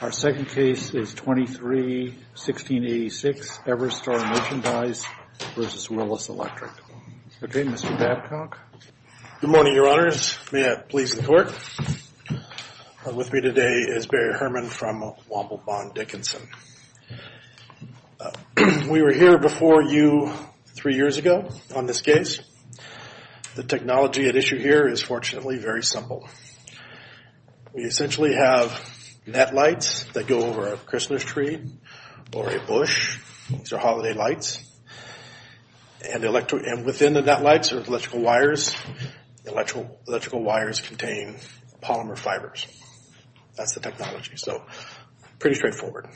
Our second case is 23-1686 Everstar Merchandise v. Willis Electric. Okay, Mr. Babcock. Good morning, Your Honors. May it please the Court. With me today is Barry Herman from Womble Bond Dickinson. We were here before you three years ago on this case. The technology at issue here is fortunately very simple. We essentially have net lights that go over a Christmas tree or a bush. These are holiday lights. And within the net lights are electrical wires. Electrical wires contain polymer fibers. That's the technology. So pretty straightforward.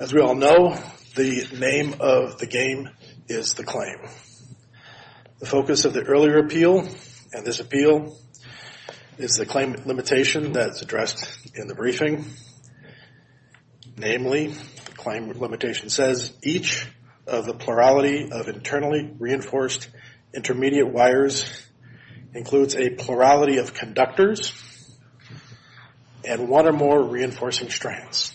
As we all know, the name of the game is the claim. The focus of the earlier appeal and this appeal is the claim limitation that's addressed in the briefing. Namely, the claim limitation says each of the plurality of internally reinforced intermediate wires includes a plurality of conductors and one or more reinforcing strands.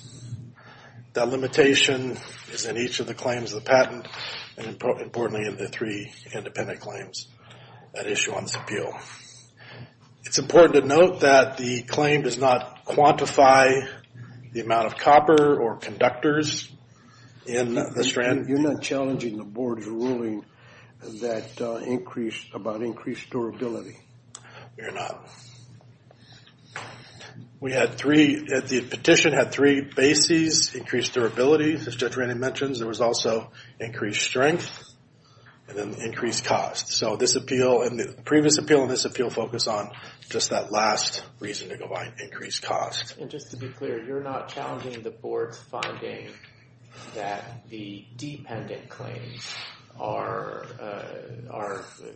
The limitation is in each of the claims of the patent and importantly in the three independent claims at issue on this appeal. It's important to note that the claim does not quantify the amount of copper or conductors in the strand. You're not challenging the Board's ruling about increased durability. We're not. The petition had three bases. Increased durability, as Judge Ranney mentions. There was also increased strength and then increased cost. So the previous appeal and this appeal focus on just that last reason to go by increased cost. And just to be clear, you're not challenging the Board's finding that the dependent claims are,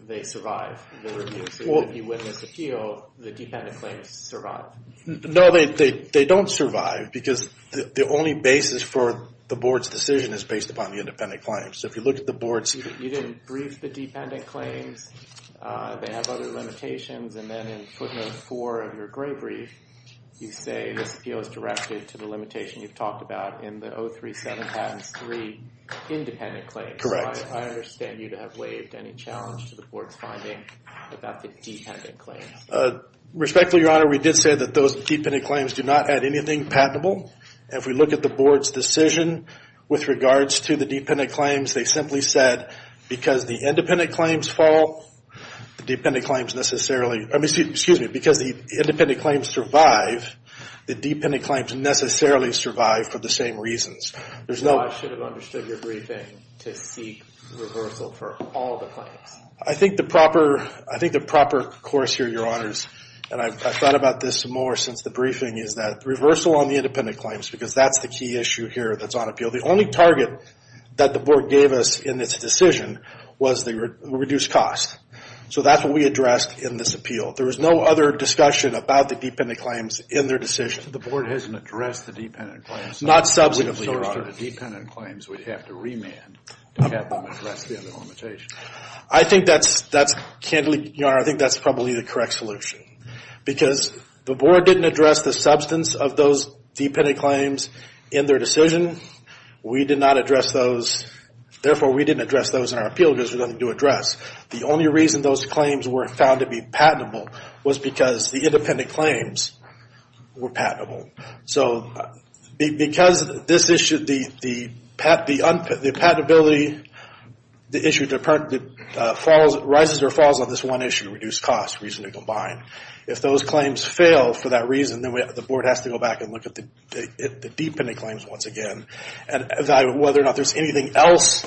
they survive. If you witness appeal, the dependent claims survive. No, they don't survive because the only basis for the Board's decision is based upon the independent claims. So if you look at the Board's... You didn't brief the dependent claims. They have other limitations. And then in footnote four of your gray brief, you say this appeal is directed to the limitation you've talked about in the 037 patents three independent claims. I understand you to have waived any challenge to the Board's finding about the dependent claims. Respectfully, Your Honor, we did say that those dependent claims do not add anything patentable. If we look at the Board's decision with regards to the dependent claims, they simply said because the independent claims fall, the dependent claims necessarily... Excuse me. Because the independent claims survive, the dependent claims necessarily survive for the same reasons. I should have understood your briefing to seek reversal for all the claims. I think the proper course here, Your Honors, and I've thought about this more since the briefing, is that reversal on the independent claims, because that's the key issue here that's on appeal. The only target that the Board gave us in its decision was the reduced cost. So that's what we addressed in this appeal. There was no other discussion about the dependent claims in their decision. The Board hasn't addressed the dependent claims. Not substantively, Your Honor. The source of the dependent claims would have to remand to have them address the other limitations. I think that's, candidly, Your Honor, I think that's probably the correct solution. Because the Board didn't address the substance of those dependent claims in their decision. We did not address those. Therefore, we didn't address those in our appeal because there's nothing to address. The only reason those claims were found to be patentable was because the independent claims were patentable. So because this issue, the patentability, the issue rises or falls on this one issue, reduced cost, reason to combine. If those claims fail for that reason, then the Board has to go back and look at the dependent claims once again and evaluate whether or not there's anything else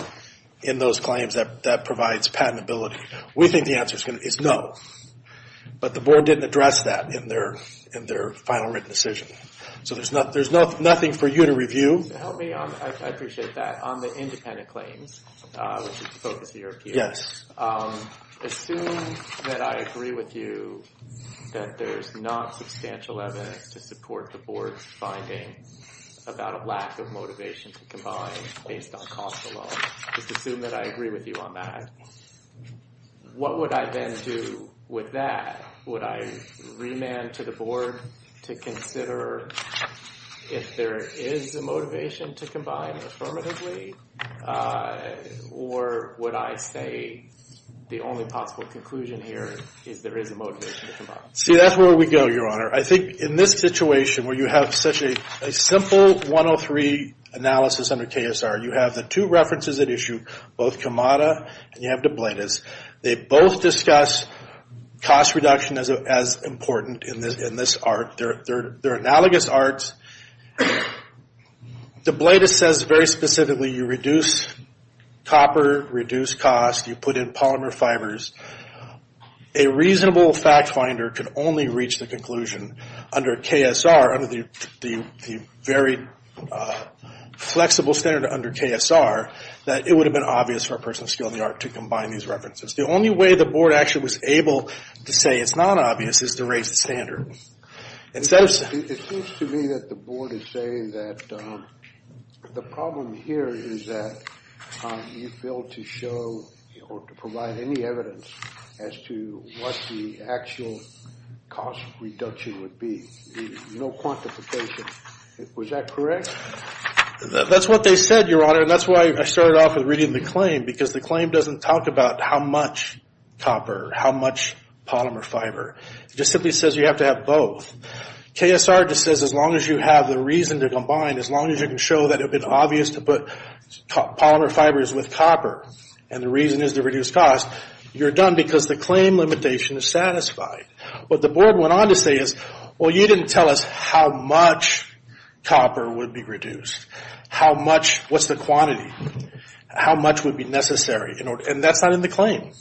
in those claims that provides patentability. We think the answer is no. But the Board didn't address that in their final written decision. So there's nothing for you to review. Help me on, I appreciate that, on the independent claims, which is the focus of your appeal. Yes. Assume that I agree with you that there's not substantial evidence to support the Board's finding about a lack of motivation to combine based on cost alone. Just assume that I agree with you on that. What would I then do with that? Would I remand to the Board to consider if there is a motivation to combine affirmatively? Or would I say the only possible conclusion here is there is a motivation to combine? See, that's where we go, Your Honor. I think in this situation where you have such a simple 103 analysis under KSR, you have the two references at issue, both Camada and you have de Blasius. They both discuss cost reduction as important in this art. They're analogous arts. De Blasius says very specifically you reduce copper, reduce cost, you put in polymer fibers. A reasonable fact finder can only reach the conclusion under KSR, the very flexible standard under KSR, that it would have been obvious for a person of skill in the art to combine these references. The only way the Board actually was able to say it's not obvious is to raise the standard. It seems to me that the Board is saying that the problem here is that you failed to show or to provide any evidence as to what the actual cost reduction would be. No quantification. Was that correct? That's what they said, Your Honor, and that's why I started off with reading the claim, because the claim doesn't talk about how much copper, how much polymer fiber. It just simply says you have to have both. KSR just says as long as you have the reason to combine, as long as you can show that it would have been obvious to put polymer fibers with copper and the reason is to reduce cost, you're done because the claim limitation is satisfied. What the Board went on to say is, well, you didn't tell us how much copper would be reduced, what's the quantity, how much would be necessary, and that's not in the claim.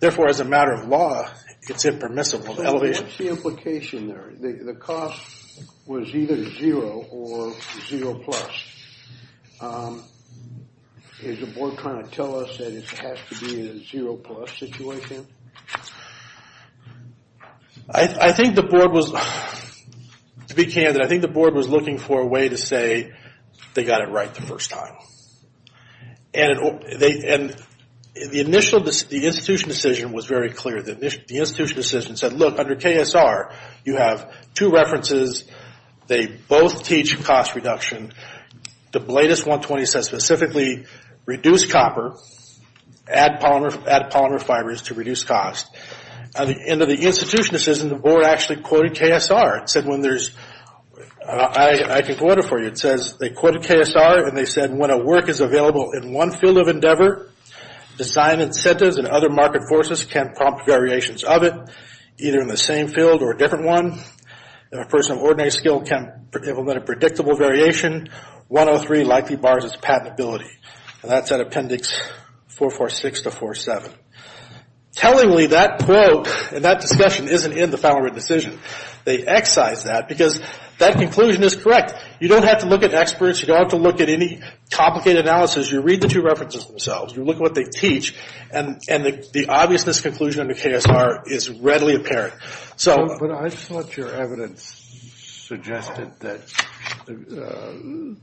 Therefore, as a matter of law, it's impermissible. What's the implication there? The cost was either zero or zero plus. Is the Board trying to tell us that it has to be a zero plus situation? I think the Board was, to be candid, I think the Board was looking for a way to say they got it right the first time. And the institution decision was very clear. The institution decision said, look, under KSR, you have two references. They both teach cost reduction. The latest 120 says specifically reduce copper, add polymer fibers to reduce cost. Under the institution decision, the Board actually quoted KSR. It said when there's, I can quote it for you. It says they quoted KSR and they said when a work is available in one field of endeavor, design incentives and other market forces can prompt variations of it, either in the same field or a different one. If a person of ordinary skill can implement a predictable variation, 103 likely bars its patentability. And that's at Appendix 446 to 47. Tellingly, that quote and that discussion isn't in the final written decision. They excise that because that conclusion is correct. You don't have to look at experts. You don't have to look at any complicated analysis. You read the two references themselves. You look at what they teach. And the obviousness conclusion under KSR is readily apparent. But I thought your evidence suggested that in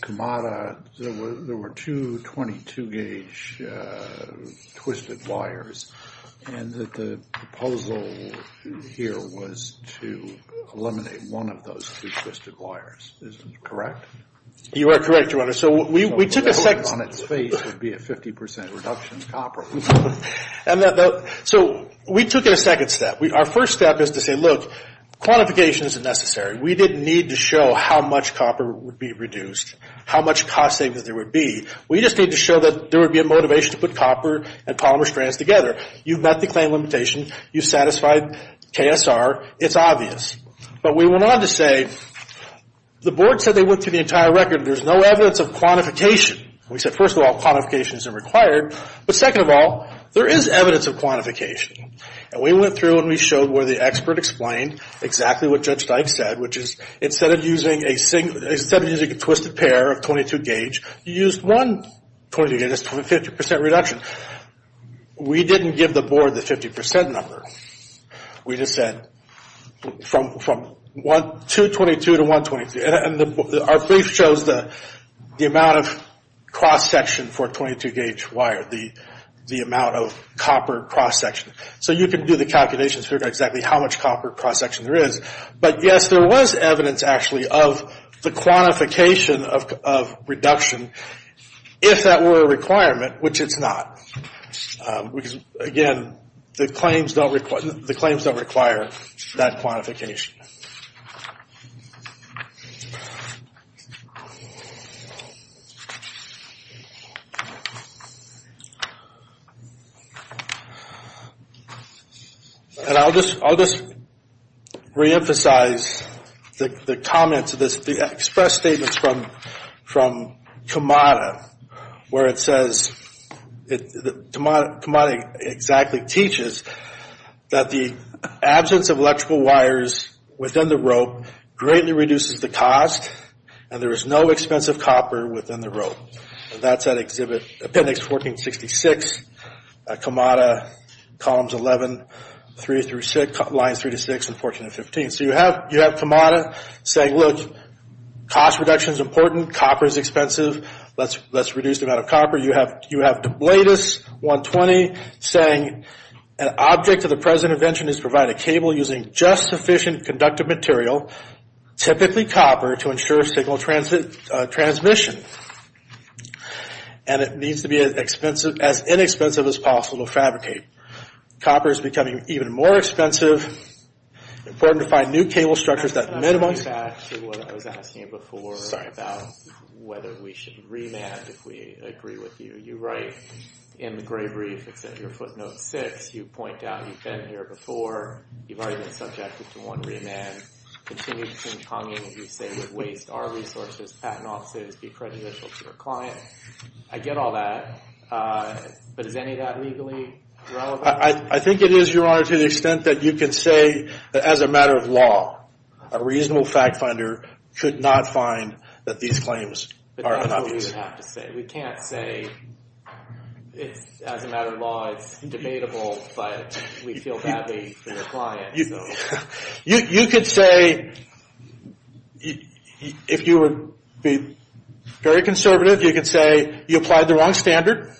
Kamada there were two 22-gauge twisted wires and that the proposal here was to eliminate one of those two twisted wires. Is that correct? You are correct, Your Honor. So we took a second step. So the lead on its face would be a 50% reduction in copper. So we took a second step. Our first step is to say, look, quantification isn't necessary. We didn't need to show how much copper would be reduced, how much cost savings there would be. We just need to show that there would be a motivation to put copper and polymer strands together. You've met the claim limitation. You've satisfied KSR. It's obvious. But we went on to say the board said they went through the entire record. There's no evidence of quantification. We said, first of all, quantification isn't required. But second of all, there is evidence of quantification. And we went through and we showed where the expert explained exactly what Judge Dyke said, which is instead of using a twisted pair of 22-gauge, you used one 22-gauge. That's a 50% reduction. We didn't give the board the 50% number. We just said from 222 to 123. Our brief shows the amount of cross-section for a 22-gauge wire, the amount of copper cross-section. So you can do the calculations to figure out exactly how much copper cross-section there is. But, yes, there was evidence actually of the quantification of reduction if that were a requirement, which it's not. Again, the claims don't require that quantification. And I'll just reemphasize the comments of this, the express statements from Camada, where it says, Camada exactly teaches that the absence of electrical wires within the rope greatly reduces the cost, and there is no expensive copper within the rope. And that's at Appendix 1466, Camada, Columns 11, Lines 3-6 and 14-15. So you have Camada saying, look, cost reduction is important. Copper is expensive. Let's reduce the amount of copper. You have De Blatis 120 saying, an object of the present invention is to provide a cable using just sufficient conductive material, typically copper, to ensure signal transmission. And it needs to be as inexpensive as possible to fabricate. Copper is becoming even more expensive. It's important to find new cable structures that minimize... I'm going back to what I was asking you before about whether we should remand, if we agree with you. You write in the Gray Brief, it's at your footnote 6, you point out you've been here before, you've already been subjected to one remand, continued sing-tonging, you say you'd waste our resources, patent offices, be prejudicial to your client. I get all that, but is any of that legally relevant? I think it is, Your Honor, to the extent that you can say, as a matter of law, a reasonable fact finder could not find that these claims are unobvious. But that's what we would have to say. We can't say, as a matter of law, it's debatable, but we feel badly for your client. You could say, if you were to be very conservative, you could say you applied the wrong standard,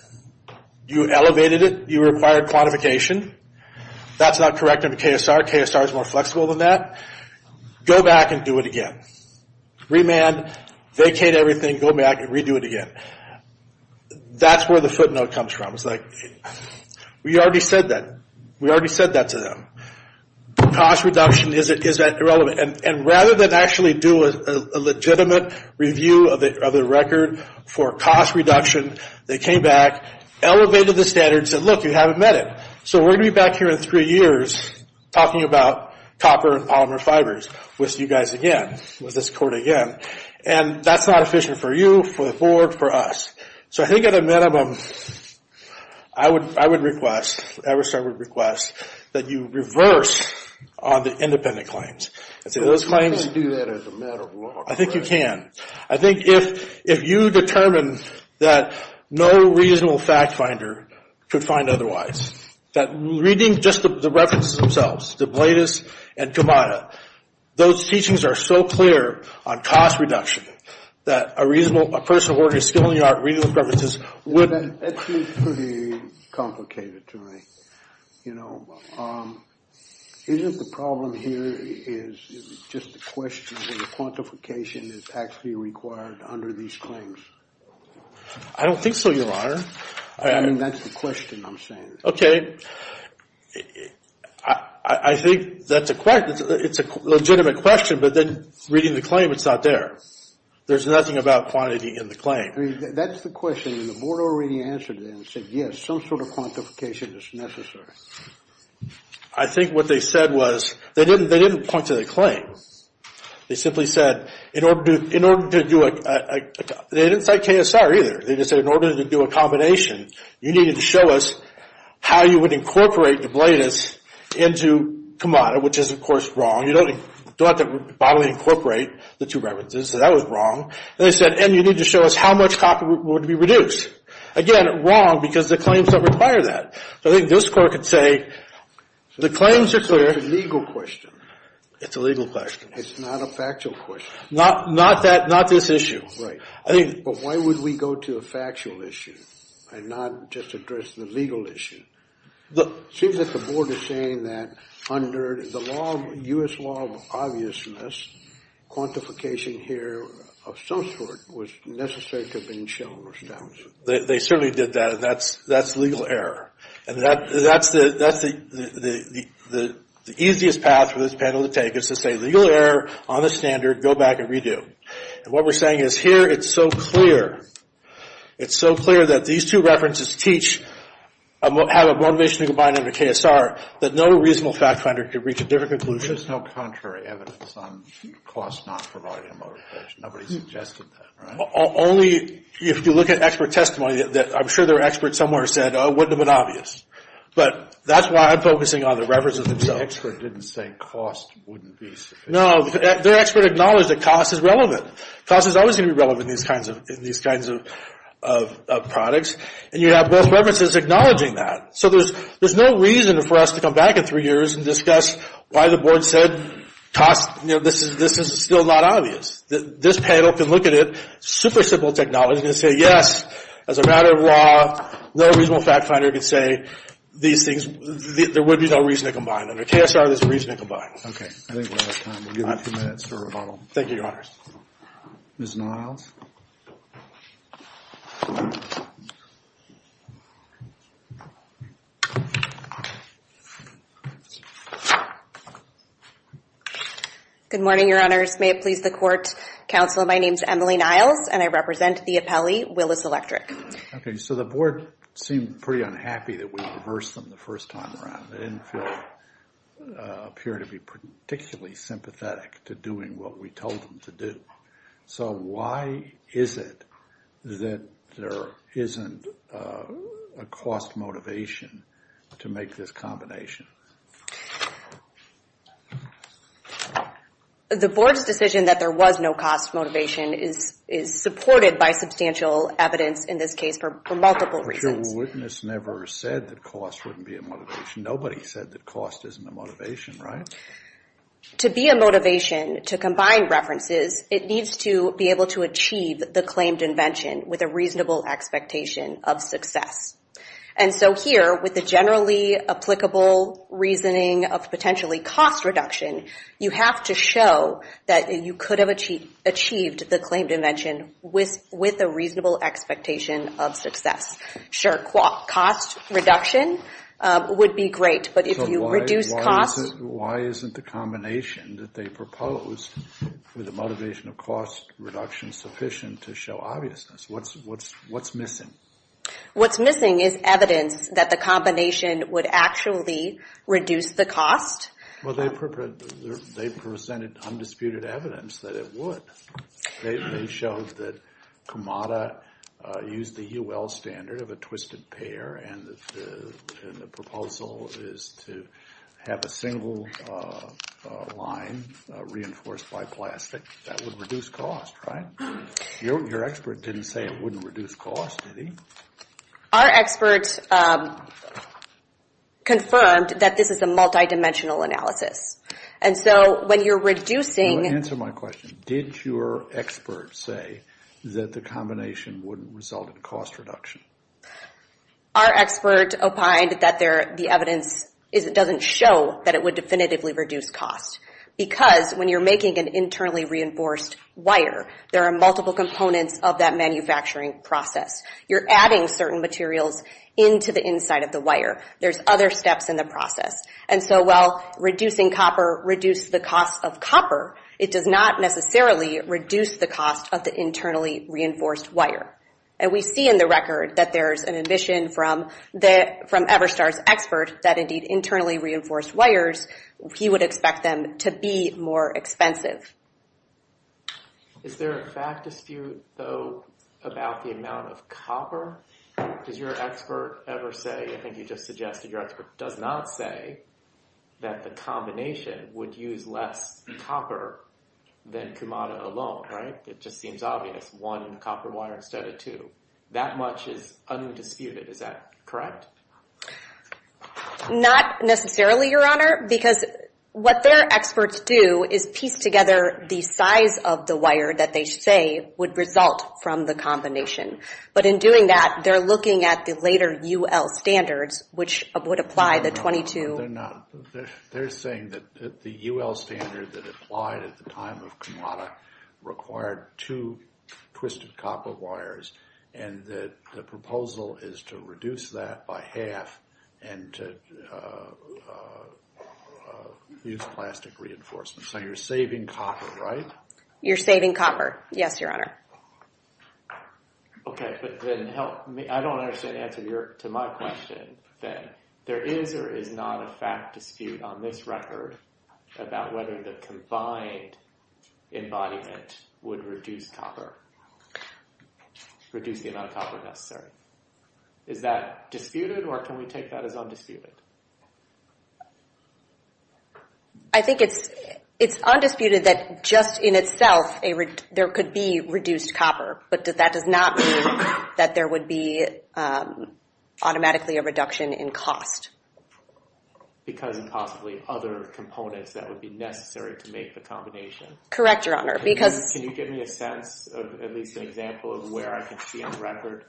you elevated it, you required quantification, that's not correct under KSR. KSR is more flexible than that. Go back and do it again. Remand, vacate everything, go back and redo it again. That's where the footnote comes from. It's like, we already said that. We already said that to them. Cost reduction, is that irrelevant? And rather than actually do a legitimate review of the record for cost reduction, they came back, elevated the standards, and said, look, you haven't met it. So we're going to be back here in three years talking about copper and polymer fibers with you guys again, with this Court again, and that's not efficient for you, for the Board, for us. So I think at a minimum, I would request, Everstate would request, that you reverse on the independent claims. Can you do that as a matter of law? I think you can. I think if you determine that no reasonable fact finder could find otherwise, that reading just the references themselves, the Bladis and Kamada, those teachings are so clear on cost reduction that a reasonable, a person of ordinary skill in the art of reading those references wouldn't. That seems pretty complicated to me. You know, isn't the problem here is just the question of whether quantification is actually required under these claims? I don't think so, Your Honor. I mean, that's the question I'm saying. Okay. I think that's a question. It's a legitimate question, but then reading the claim, it's not there. There's nothing about quantity in the claim. I mean, that's the question, and the Board already answered that and said, yes, some sort of quantification is necessary. I think what they said was, they didn't point to the claim. They simply said, in order to do a, they didn't cite KSR either. They just said, in order to do a combination, you needed to show us how you would incorporate the Bladis into Kamada, which is, of course, wrong. You don't have to bodily incorporate the two references, so that was wrong. They said, and you need to show us how much copy would be reduced. Again, wrong because the claims don't require that. So I think this Court could say, the claims are clear. It's a legal question. It's a legal question. It's not a factual question. Not that, not this issue. Right. But why would we go to a factual issue and not just address the legal issue? It seems that the Board is saying that under the law, U.S. law of obviousness, quantification here of some sort was necessary to have been shown or established. They certainly did that, and that's legal error. And that's the easiest path for this panel to take is to say, legal error on the standard. Go back and redo. And what we're saying is, here it's so clear. It's so clear that these two references teach, have a motivation to combine under KSR, that no reasonable fact finder could reach a different conclusion. There's no contrary evidence on cost not providing a motivation. Nobody suggested that, right? Only if you look at expert testimony. I'm sure there are experts somewhere who said, oh, wouldn't have been obvious. But that's why I'm focusing on the references themselves. The expert didn't say cost wouldn't be sufficient. No. Their expert acknowledged that cost is relevant. Cost is always going to be relevant in these kinds of products. And you have both references acknowledging that. So there's no reason for us to come back in three years and discuss why the Board said cost, you know, this is still not obvious. This panel can look at it, super simple technology, and say, yes, as a matter of law, no reasonable fact finder could say these things, there would be no reason to combine them. Under KSR, there's a reason to combine them. Okay. I think we're out of time. We'll give you a few minutes for rebuttal. Thank you, Your Honors. Ms. Niles. Good morning, Your Honors. May it please the Court, Counsel, my name is Emily Niles, and I represent the appellee, Willis Electric. Okay. So the Board seemed pretty unhappy that we reversed them the first time around. They didn't appear to be particularly sympathetic to doing what we told them to do. So why is it that there isn't a cost motivation to make this combination? The Board's decision that there was no cost motivation is supported by substantial evidence in this case for multiple reasons. No witness never said that cost wouldn't be a motivation. Nobody said that cost isn't a motivation, right? To be a motivation to combine references, it needs to be able to achieve the claimed invention with a reasonable expectation of success. And so here, with the generally applicable reasoning of potentially cost reduction, you have to show that you could have achieved the claimed invention with a reasonable expectation of success. Sure, cost reduction would be great, but if you reduce cost... So why isn't the combination that they proposed for the motivation of cost reduction sufficient to show obviousness? What's missing? What's missing is evidence that the combination would actually reduce the cost. Well, they presented undisputed evidence that it would. They showed that Kumada used the UL standard of a twisted pair, and the proposal is to have a single line reinforced by plastic. That would reduce cost, right? Your expert didn't say it wouldn't reduce cost, did he? Our expert confirmed that this is a multidimensional analysis. And so when you're reducing... Answer my question. Did your expert say that the combination wouldn't result in cost reduction? Our expert opined that the evidence doesn't show that it would definitively reduce cost because when you're making an internally reinforced wire, there are multiple components of that manufacturing process. You're adding certain materials into the inside of the wire. There's other steps in the process. And so while reducing copper reduced the cost of copper, it does not necessarily reduce the cost of the internally reinforced wire. And we see in the record that there's an admission from Everstar's expert that, indeed, internally reinforced wires, he would expect them to be more expensive. Is there a fact dispute, though, about the amount of copper? Does your expert ever say... I think you just suggested your expert does not say that the combination would use less copper than Kumada alone, right? It just seems obvious. One in copper wire instead of two. That much is undisputed. Is that correct? Not necessarily, Your Honor, because what their experts do is piece together the size of the wire that they say would result from the combination. But in doing that, they're looking at the later U.L. standards, which would apply the 22... They're saying that the U.L. standard that applied at the time of Kumada required two twisted copper wires, and that the proposal is to reduce that by half and to use plastic reinforcements. So you're saving copper, right? You're saving copper, yes, Your Honor. Okay, but then help me... I don't understand the answer to my question, then. There is or is not a fact dispute on this record about whether the combined embodiment would reduce copper, reduce the amount of copper necessary. Is that disputed, or can we take that as undisputed? I think it's undisputed that just in itself, there could be reduced copper, but that does not mean that there would be automatically a reduction in cost. Because of possibly other components that would be necessary to make the combination? Correct, Your Honor, because... Can you give me a sense of at least an example of where I can see on record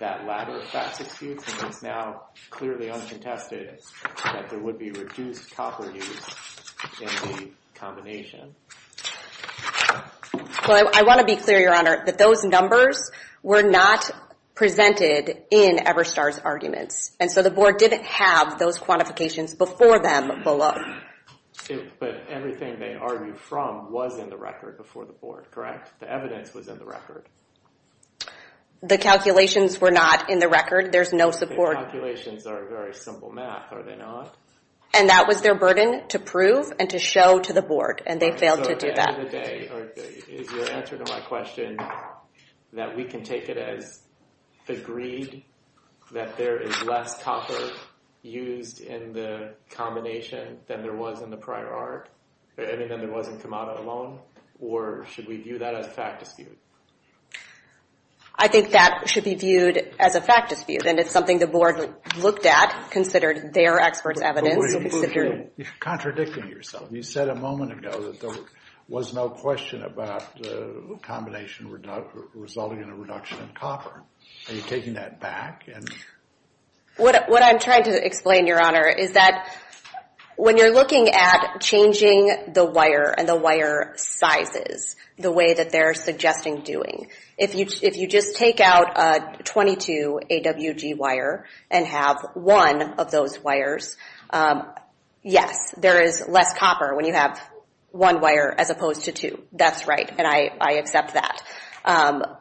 that latter fact dispute? Because it's now clearly uncontested that there would be reduced copper used in the combination. Well, I want to be clear, Your Honor, that those numbers were not presented in Everstar's arguments, and so the board didn't have those quantifications before them below. But everything they argued from was in the record before the board, correct? The evidence was in the record. The calculations were not in the record. There's no support... The calculations are very simple math, are they not? And that was their burden to prove and to show to the board, and they failed to do that. So at the end of the day, is your answer to my question that we can take it as agreed that there is less copper used in the combination than there was in the prior art? I mean, than there was in Kamada alone? Or should we view that as a fact dispute? I think that should be viewed as a fact dispute, and it's something the board looked at, considered their expert's evidence. You're contradicting yourself. You said a moment ago that there was no question about the combination resulting in a reduction in copper. Are you taking that back? What I'm trying to explain, Your Honor, is that when you're looking at changing the wire and the wire sizes the way that they're suggesting doing, if you just take out 22 AWG wire and have one of those wires yes, there is less copper when you have one wire as opposed to two. That's right, and I accept that.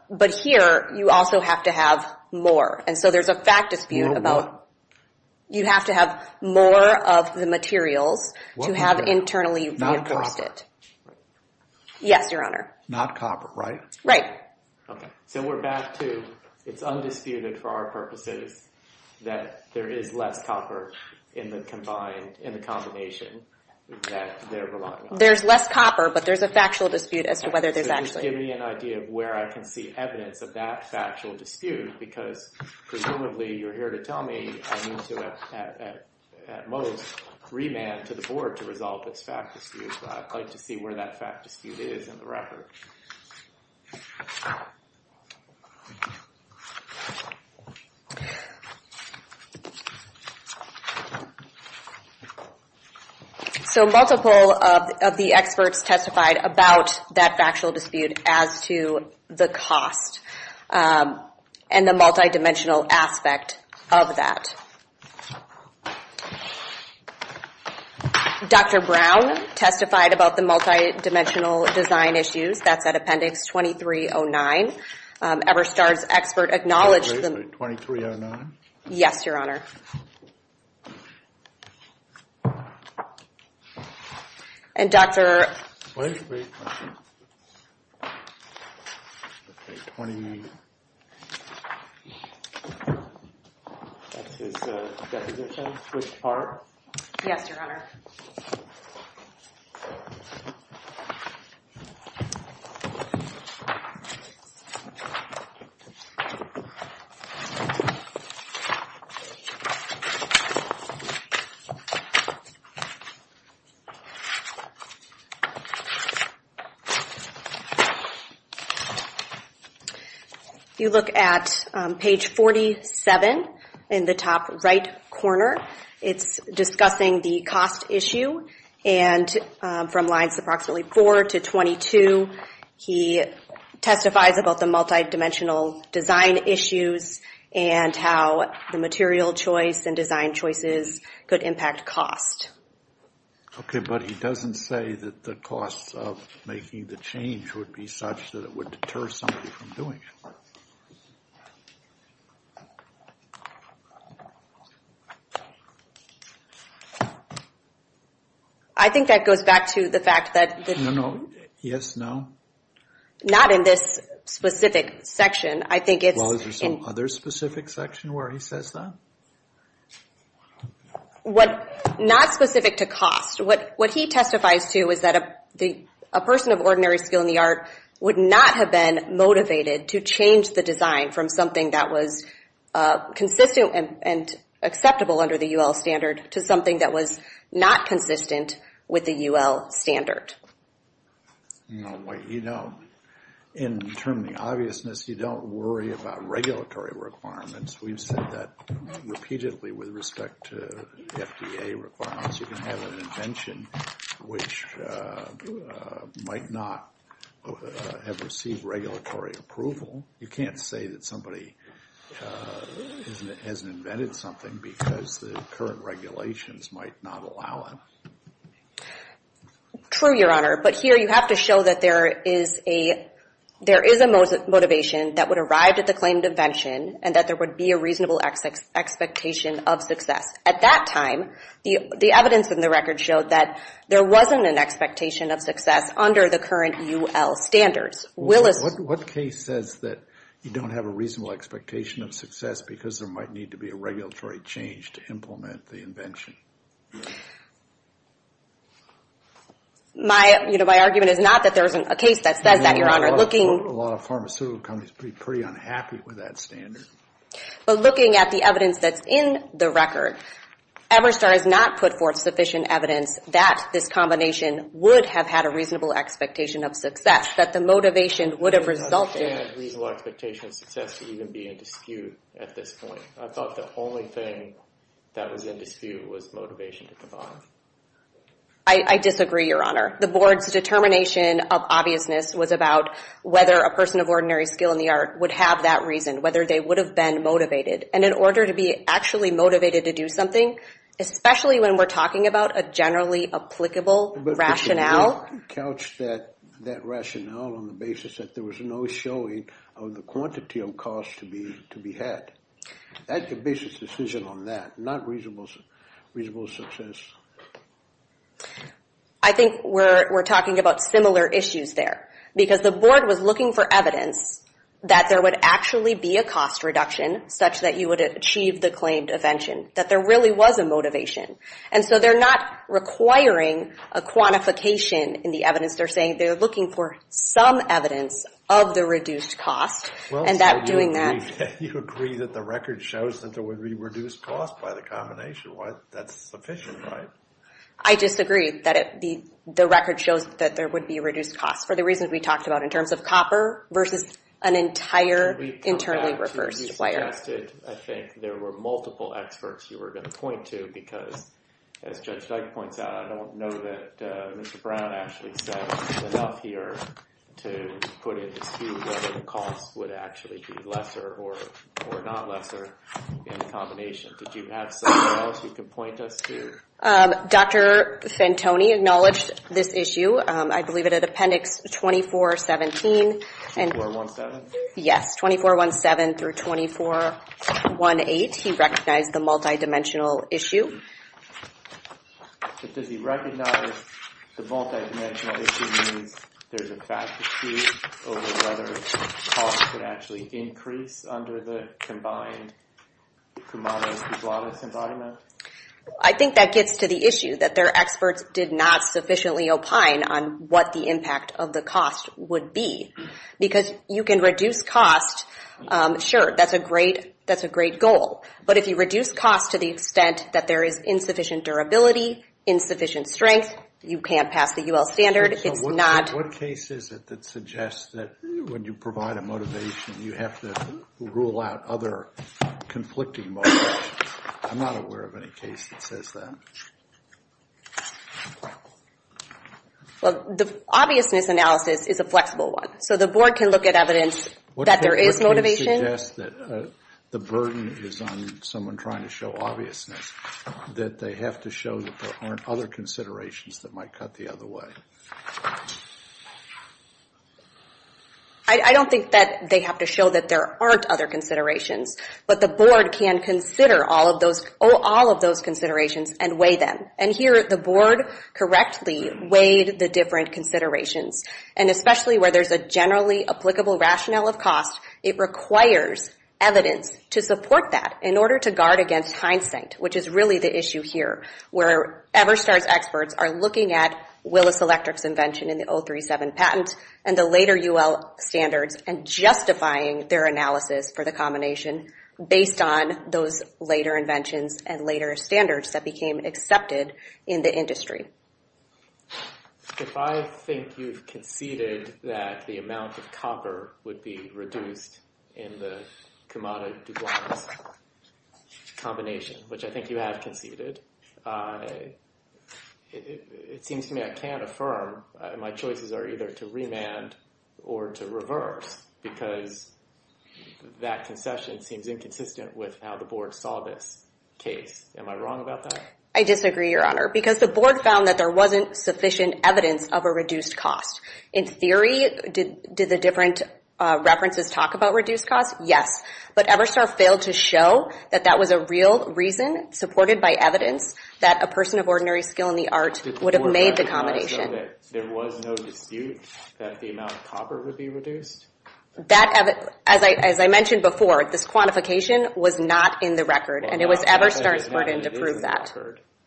But here, you also have to have more. And so there's a fact dispute about you have to have more of the materials to have internally reinforced it. Yes, Your Honor. Not copper, right? Okay. So we're back to it's undisputed for our purposes that there is less copper in the combination that they're relying on. There's less copper, but there's a factual dispute as to whether there's actually... Just give me an idea of where I can see evidence of that factual dispute because presumably you're here to tell me I need to, at most, remand to the board to resolve this fact dispute, but I'd like to see where that fact dispute is in the record. So multiple of the experts testified about that factual dispute as to the cost and the multidimensional aspect of that. Dr. Brown testified about the multidimensional design issues. That's at Appendix 2309. Everstar's expert acknowledged the... 2309? Yes, Your Honor. And Dr... 2320. Okay, 28. That's his definition, which part? Yes, Your Honor. Okay. If you look at page 47 in the top right corner, it's discussing the cost issue, and from lines approximately 4 to 22, he testifies about the multidimensional design issues and how the material choice and design choices could impact cost. Okay, but he doesn't say that the cost of making the change would be such that it would deter somebody from doing it. I think that goes back to the fact that... No, no. Yes, no. Not in this specific section. I think it's... Well, is there some other specific section where he says that? Not specific to cost. What he testifies to is that a person of ordinary skill in the art would not have been motivated to change the design from something that was consistent and acceptable under the UL standard to something that was not consistent with the UL standard. No, you don't. In determining obviousness, you don't worry about regulatory requirements. We've said that repeatedly with respect to FDA requirements. You can have an invention which might not have received regulatory approval. You can't say that somebody hasn't invented something because the current regulations might not allow it. True, Your Honor, but here you have to show that there is a motivation that would arrive at the claim to invention and that there would be a reasonable expectation of success. At that time, the evidence in the record showed that there wasn't an expectation of success under the current UL standards. What case says that you don't have a reasonable expectation of success because there might need to be a regulatory change to implement the invention? My argument is not that there isn't a case that says that, Your Honor. A lot of pharmaceutical companies would be pretty unhappy with that standard. But looking at the evidence that's in the record, Everstar has not put forth sufficient evidence that this combination would have had a reasonable expectation of success, that the motivation would have resulted... ...a reasonable expectation of success would even be in dispute at this point. I thought the only thing that was in dispute was motivation at the bottom. I disagree, Your Honor. The board's determination of obviousness was about whether a person of ordinary skill in the art would have that reason, whether they would have been motivated. And in order to be actually motivated to do something, especially when we're talking about a generally applicable rationale... ...couched that rationale on the basis that there was no showing of the quantity of costs to be had. That's a business decision on that, not reasonable success. I think we're talking about similar issues there. Because the board was looking for evidence that there would actually be a cost reduction such that you would achieve the claimed invention, that there really was a motivation. And so they're not requiring a quantification in the evidence. They're saying they're looking for some evidence of the reduced cost, and that doing that... You agree that the record shows that there would be reduced costs by the combination. That's sufficient, right? I disagree that the record shows that there would be reduced costs for the reasons we talked about in terms of copper versus an entire internally reversed wire. I think there were multiple experts you were going to point to because, as Judge Dyke points out, I don't know that Mr. Brown actually said enough here to put into whether the costs would actually be lesser or not lesser in the combination. Did you have something else you could point us to? Dr. Fantoni acknowledged this issue, I believe, at Appendix 2417. 2417? Yes, 2417 through 2418. 2417 through 2418, he recognized the multidimensional issue. But does he recognize the multidimensional issue means there's a vacancy over whether costs could actually increase under the combined Kumano-Kubladis environment? I think that gets to the issue, that their experts did not sufficiently opine on what the impact of the cost would be. Because you can reduce costs. Sure, that's a great goal. But if you reduce costs to the extent that there is insufficient durability, insufficient strength, you can't pass the UL standard. What case is it that suggests that when you provide a motivation you have to rule out other conflicting motives? I'm not aware of any case that says that. Well, the obviousness analysis is a flexible one. So the board can look at evidence that there is motivation. What case suggests that the burden is on someone trying to show obviousness, that they have to show that there aren't other considerations that might cut the other way? I don't think that they have to show that there aren't other considerations. But the board can consider all of those considerations and weigh them. And here, the board correctly weighed the different considerations. And especially where there's a generally applicable rationale of cost, it requires evidence to support that in order to guard against hindsight, which is really the issue here, where Everstar's experts are looking at Willis Electric's invention in the 037 patent and the later UL standards and justifying their analysis for the combination based on those later inventions and later standards that became accepted in the industry. If I think you've conceded that the amount of copper would be reduced in the Kamada-DuBois combination, which I think you have conceded, it seems to me I can't affirm. My choices are either to remand or to reverse because that concession seems inconsistent with how the board saw this case. Am I wrong about that? I disagree, Your Honor, because the board found that there wasn't sufficient evidence of a reduced cost. In theory, did the different references talk about reduced cost? Yes. But Everstar failed to show that that was a real reason supported by evidence that a person of ordinary skill in the art would have made the combination. There was no dispute that the amount of copper would be reduced? As I mentioned before, this quantification was not in the record. And it was Everstar's burden to prove that.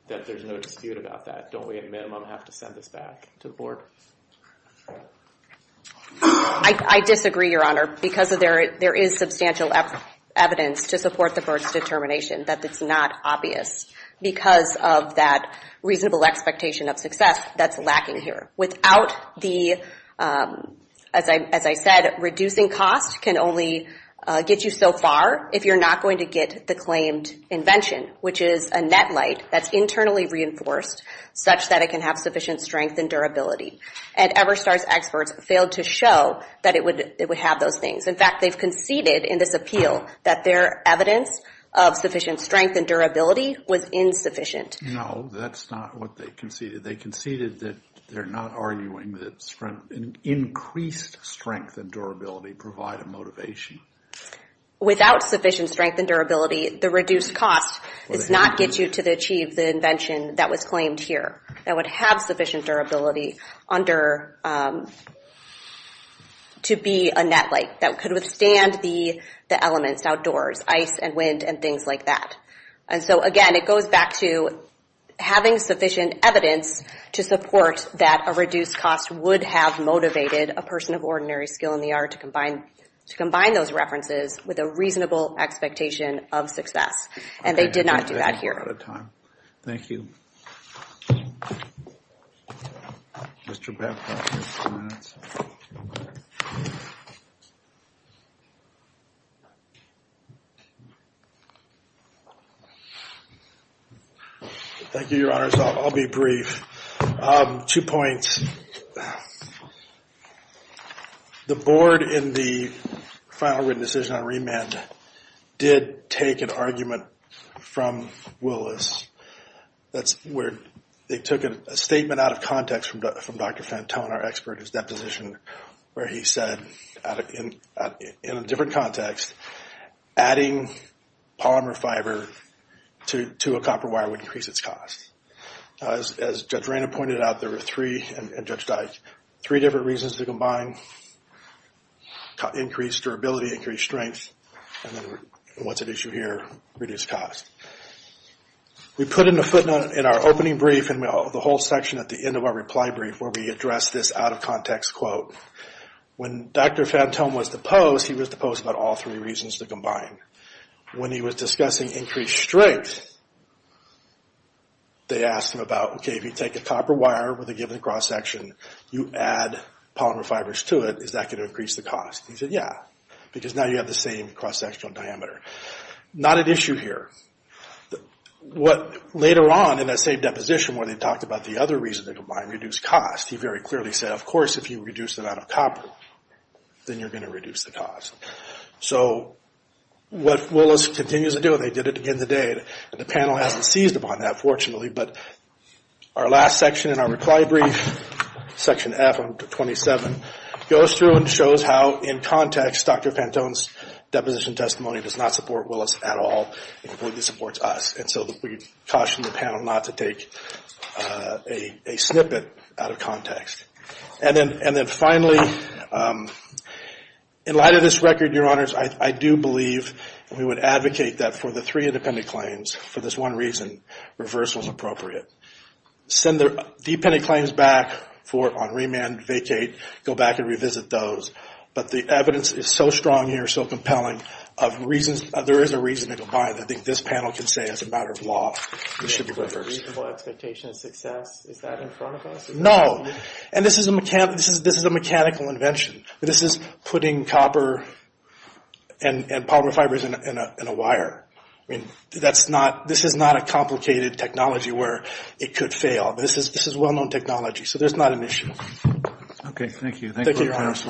There's no dispute about that. Don't we at minimum have to send this back to the board? I disagree, Your Honor, because there is substantial evidence to support the first determination that it's not obvious because of that reasonable expectation of success that's lacking here. Without the, as I said, reducing cost can only get you so far if you're not going to get the claimed invention, which is a net light that's internally reinforced such that it can have sufficient strength and durability. And Everstar's experts failed to show that it would have those things. In fact, they've conceded in this appeal that their evidence of sufficient strength and durability was insufficient. No, that's not what they conceded. They conceded that they're not arguing that increased strength and durability provide a motivation. Without sufficient strength and durability, the reduced cost does not get you to achieve the invention that was claimed here, that would have sufficient durability to be a net light that could withstand the elements outdoors, ice and wind and things like that. And so, again, it goes back to having sufficient evidence to support that a reduced cost would have motivated a person of ordinary skill in the art to combine those references with a reasonable expectation of success. And they did not do that here. Thank you. Thank you, Your Honors. I'll be brief. Two points. The board in the final written decision on remand did take an argument from Willis. That's where they took a statement out of context from Dr. Fantone, our expert, his deposition, where he said, in a different context, adding polymer fiber to a copper wire would increase its cost. As Judge Reyna pointed out, there are three, and Judge Dyke, three different reasons to combine increased durability, increased strength, and then what's at issue here, reduced cost. We put in the footnote in our opening brief and the whole section at the end of our reply brief where we address this out-of-context quote. When Dr. Fantone was deposed, he was deposed about all three reasons to combine. When he was discussing increased strength, they asked him about, okay, if you take a copper wire with a given cross-section, you add polymer fibers to it, is that going to increase the cost? He said, yeah, because now you have the same cross-sectional diameter. Not at issue here. Later on in that same deposition where they talked about the other reason to combine, reduced cost, he very clearly said, of course, if you reduce the amount of copper, then you're going to reduce the cost. So what Willis continues to do, and they did it again today, and the panel hasn't seized upon that, fortunately, but our last section in our reply brief, section F27, goes through and shows how, in context, Dr. Fantone's deposition testimony does not support Willis at all. It completely supports us. And so we caution the panel not to take a snippet out of context. And then finally, in light of this record, Your Honors, I do believe we would advocate that for the three independent claims, for this one reason, reversal is appropriate. Send the dependent claims back on remand, vacate, go back and revisit those. But the evidence is so strong here, so compelling, there is a reason to combine. I think this panel can say, as a matter of law, it should be reversed. Reasonable expectation of success, is that in front of us? No. And this is a mechanical invention. This is putting copper and polymer fibers in a wire. I mean, this is not a complicated technology where it could fail. This is well-known technology, so there's not an issue. Okay, thank you. Thank you, Your Honors.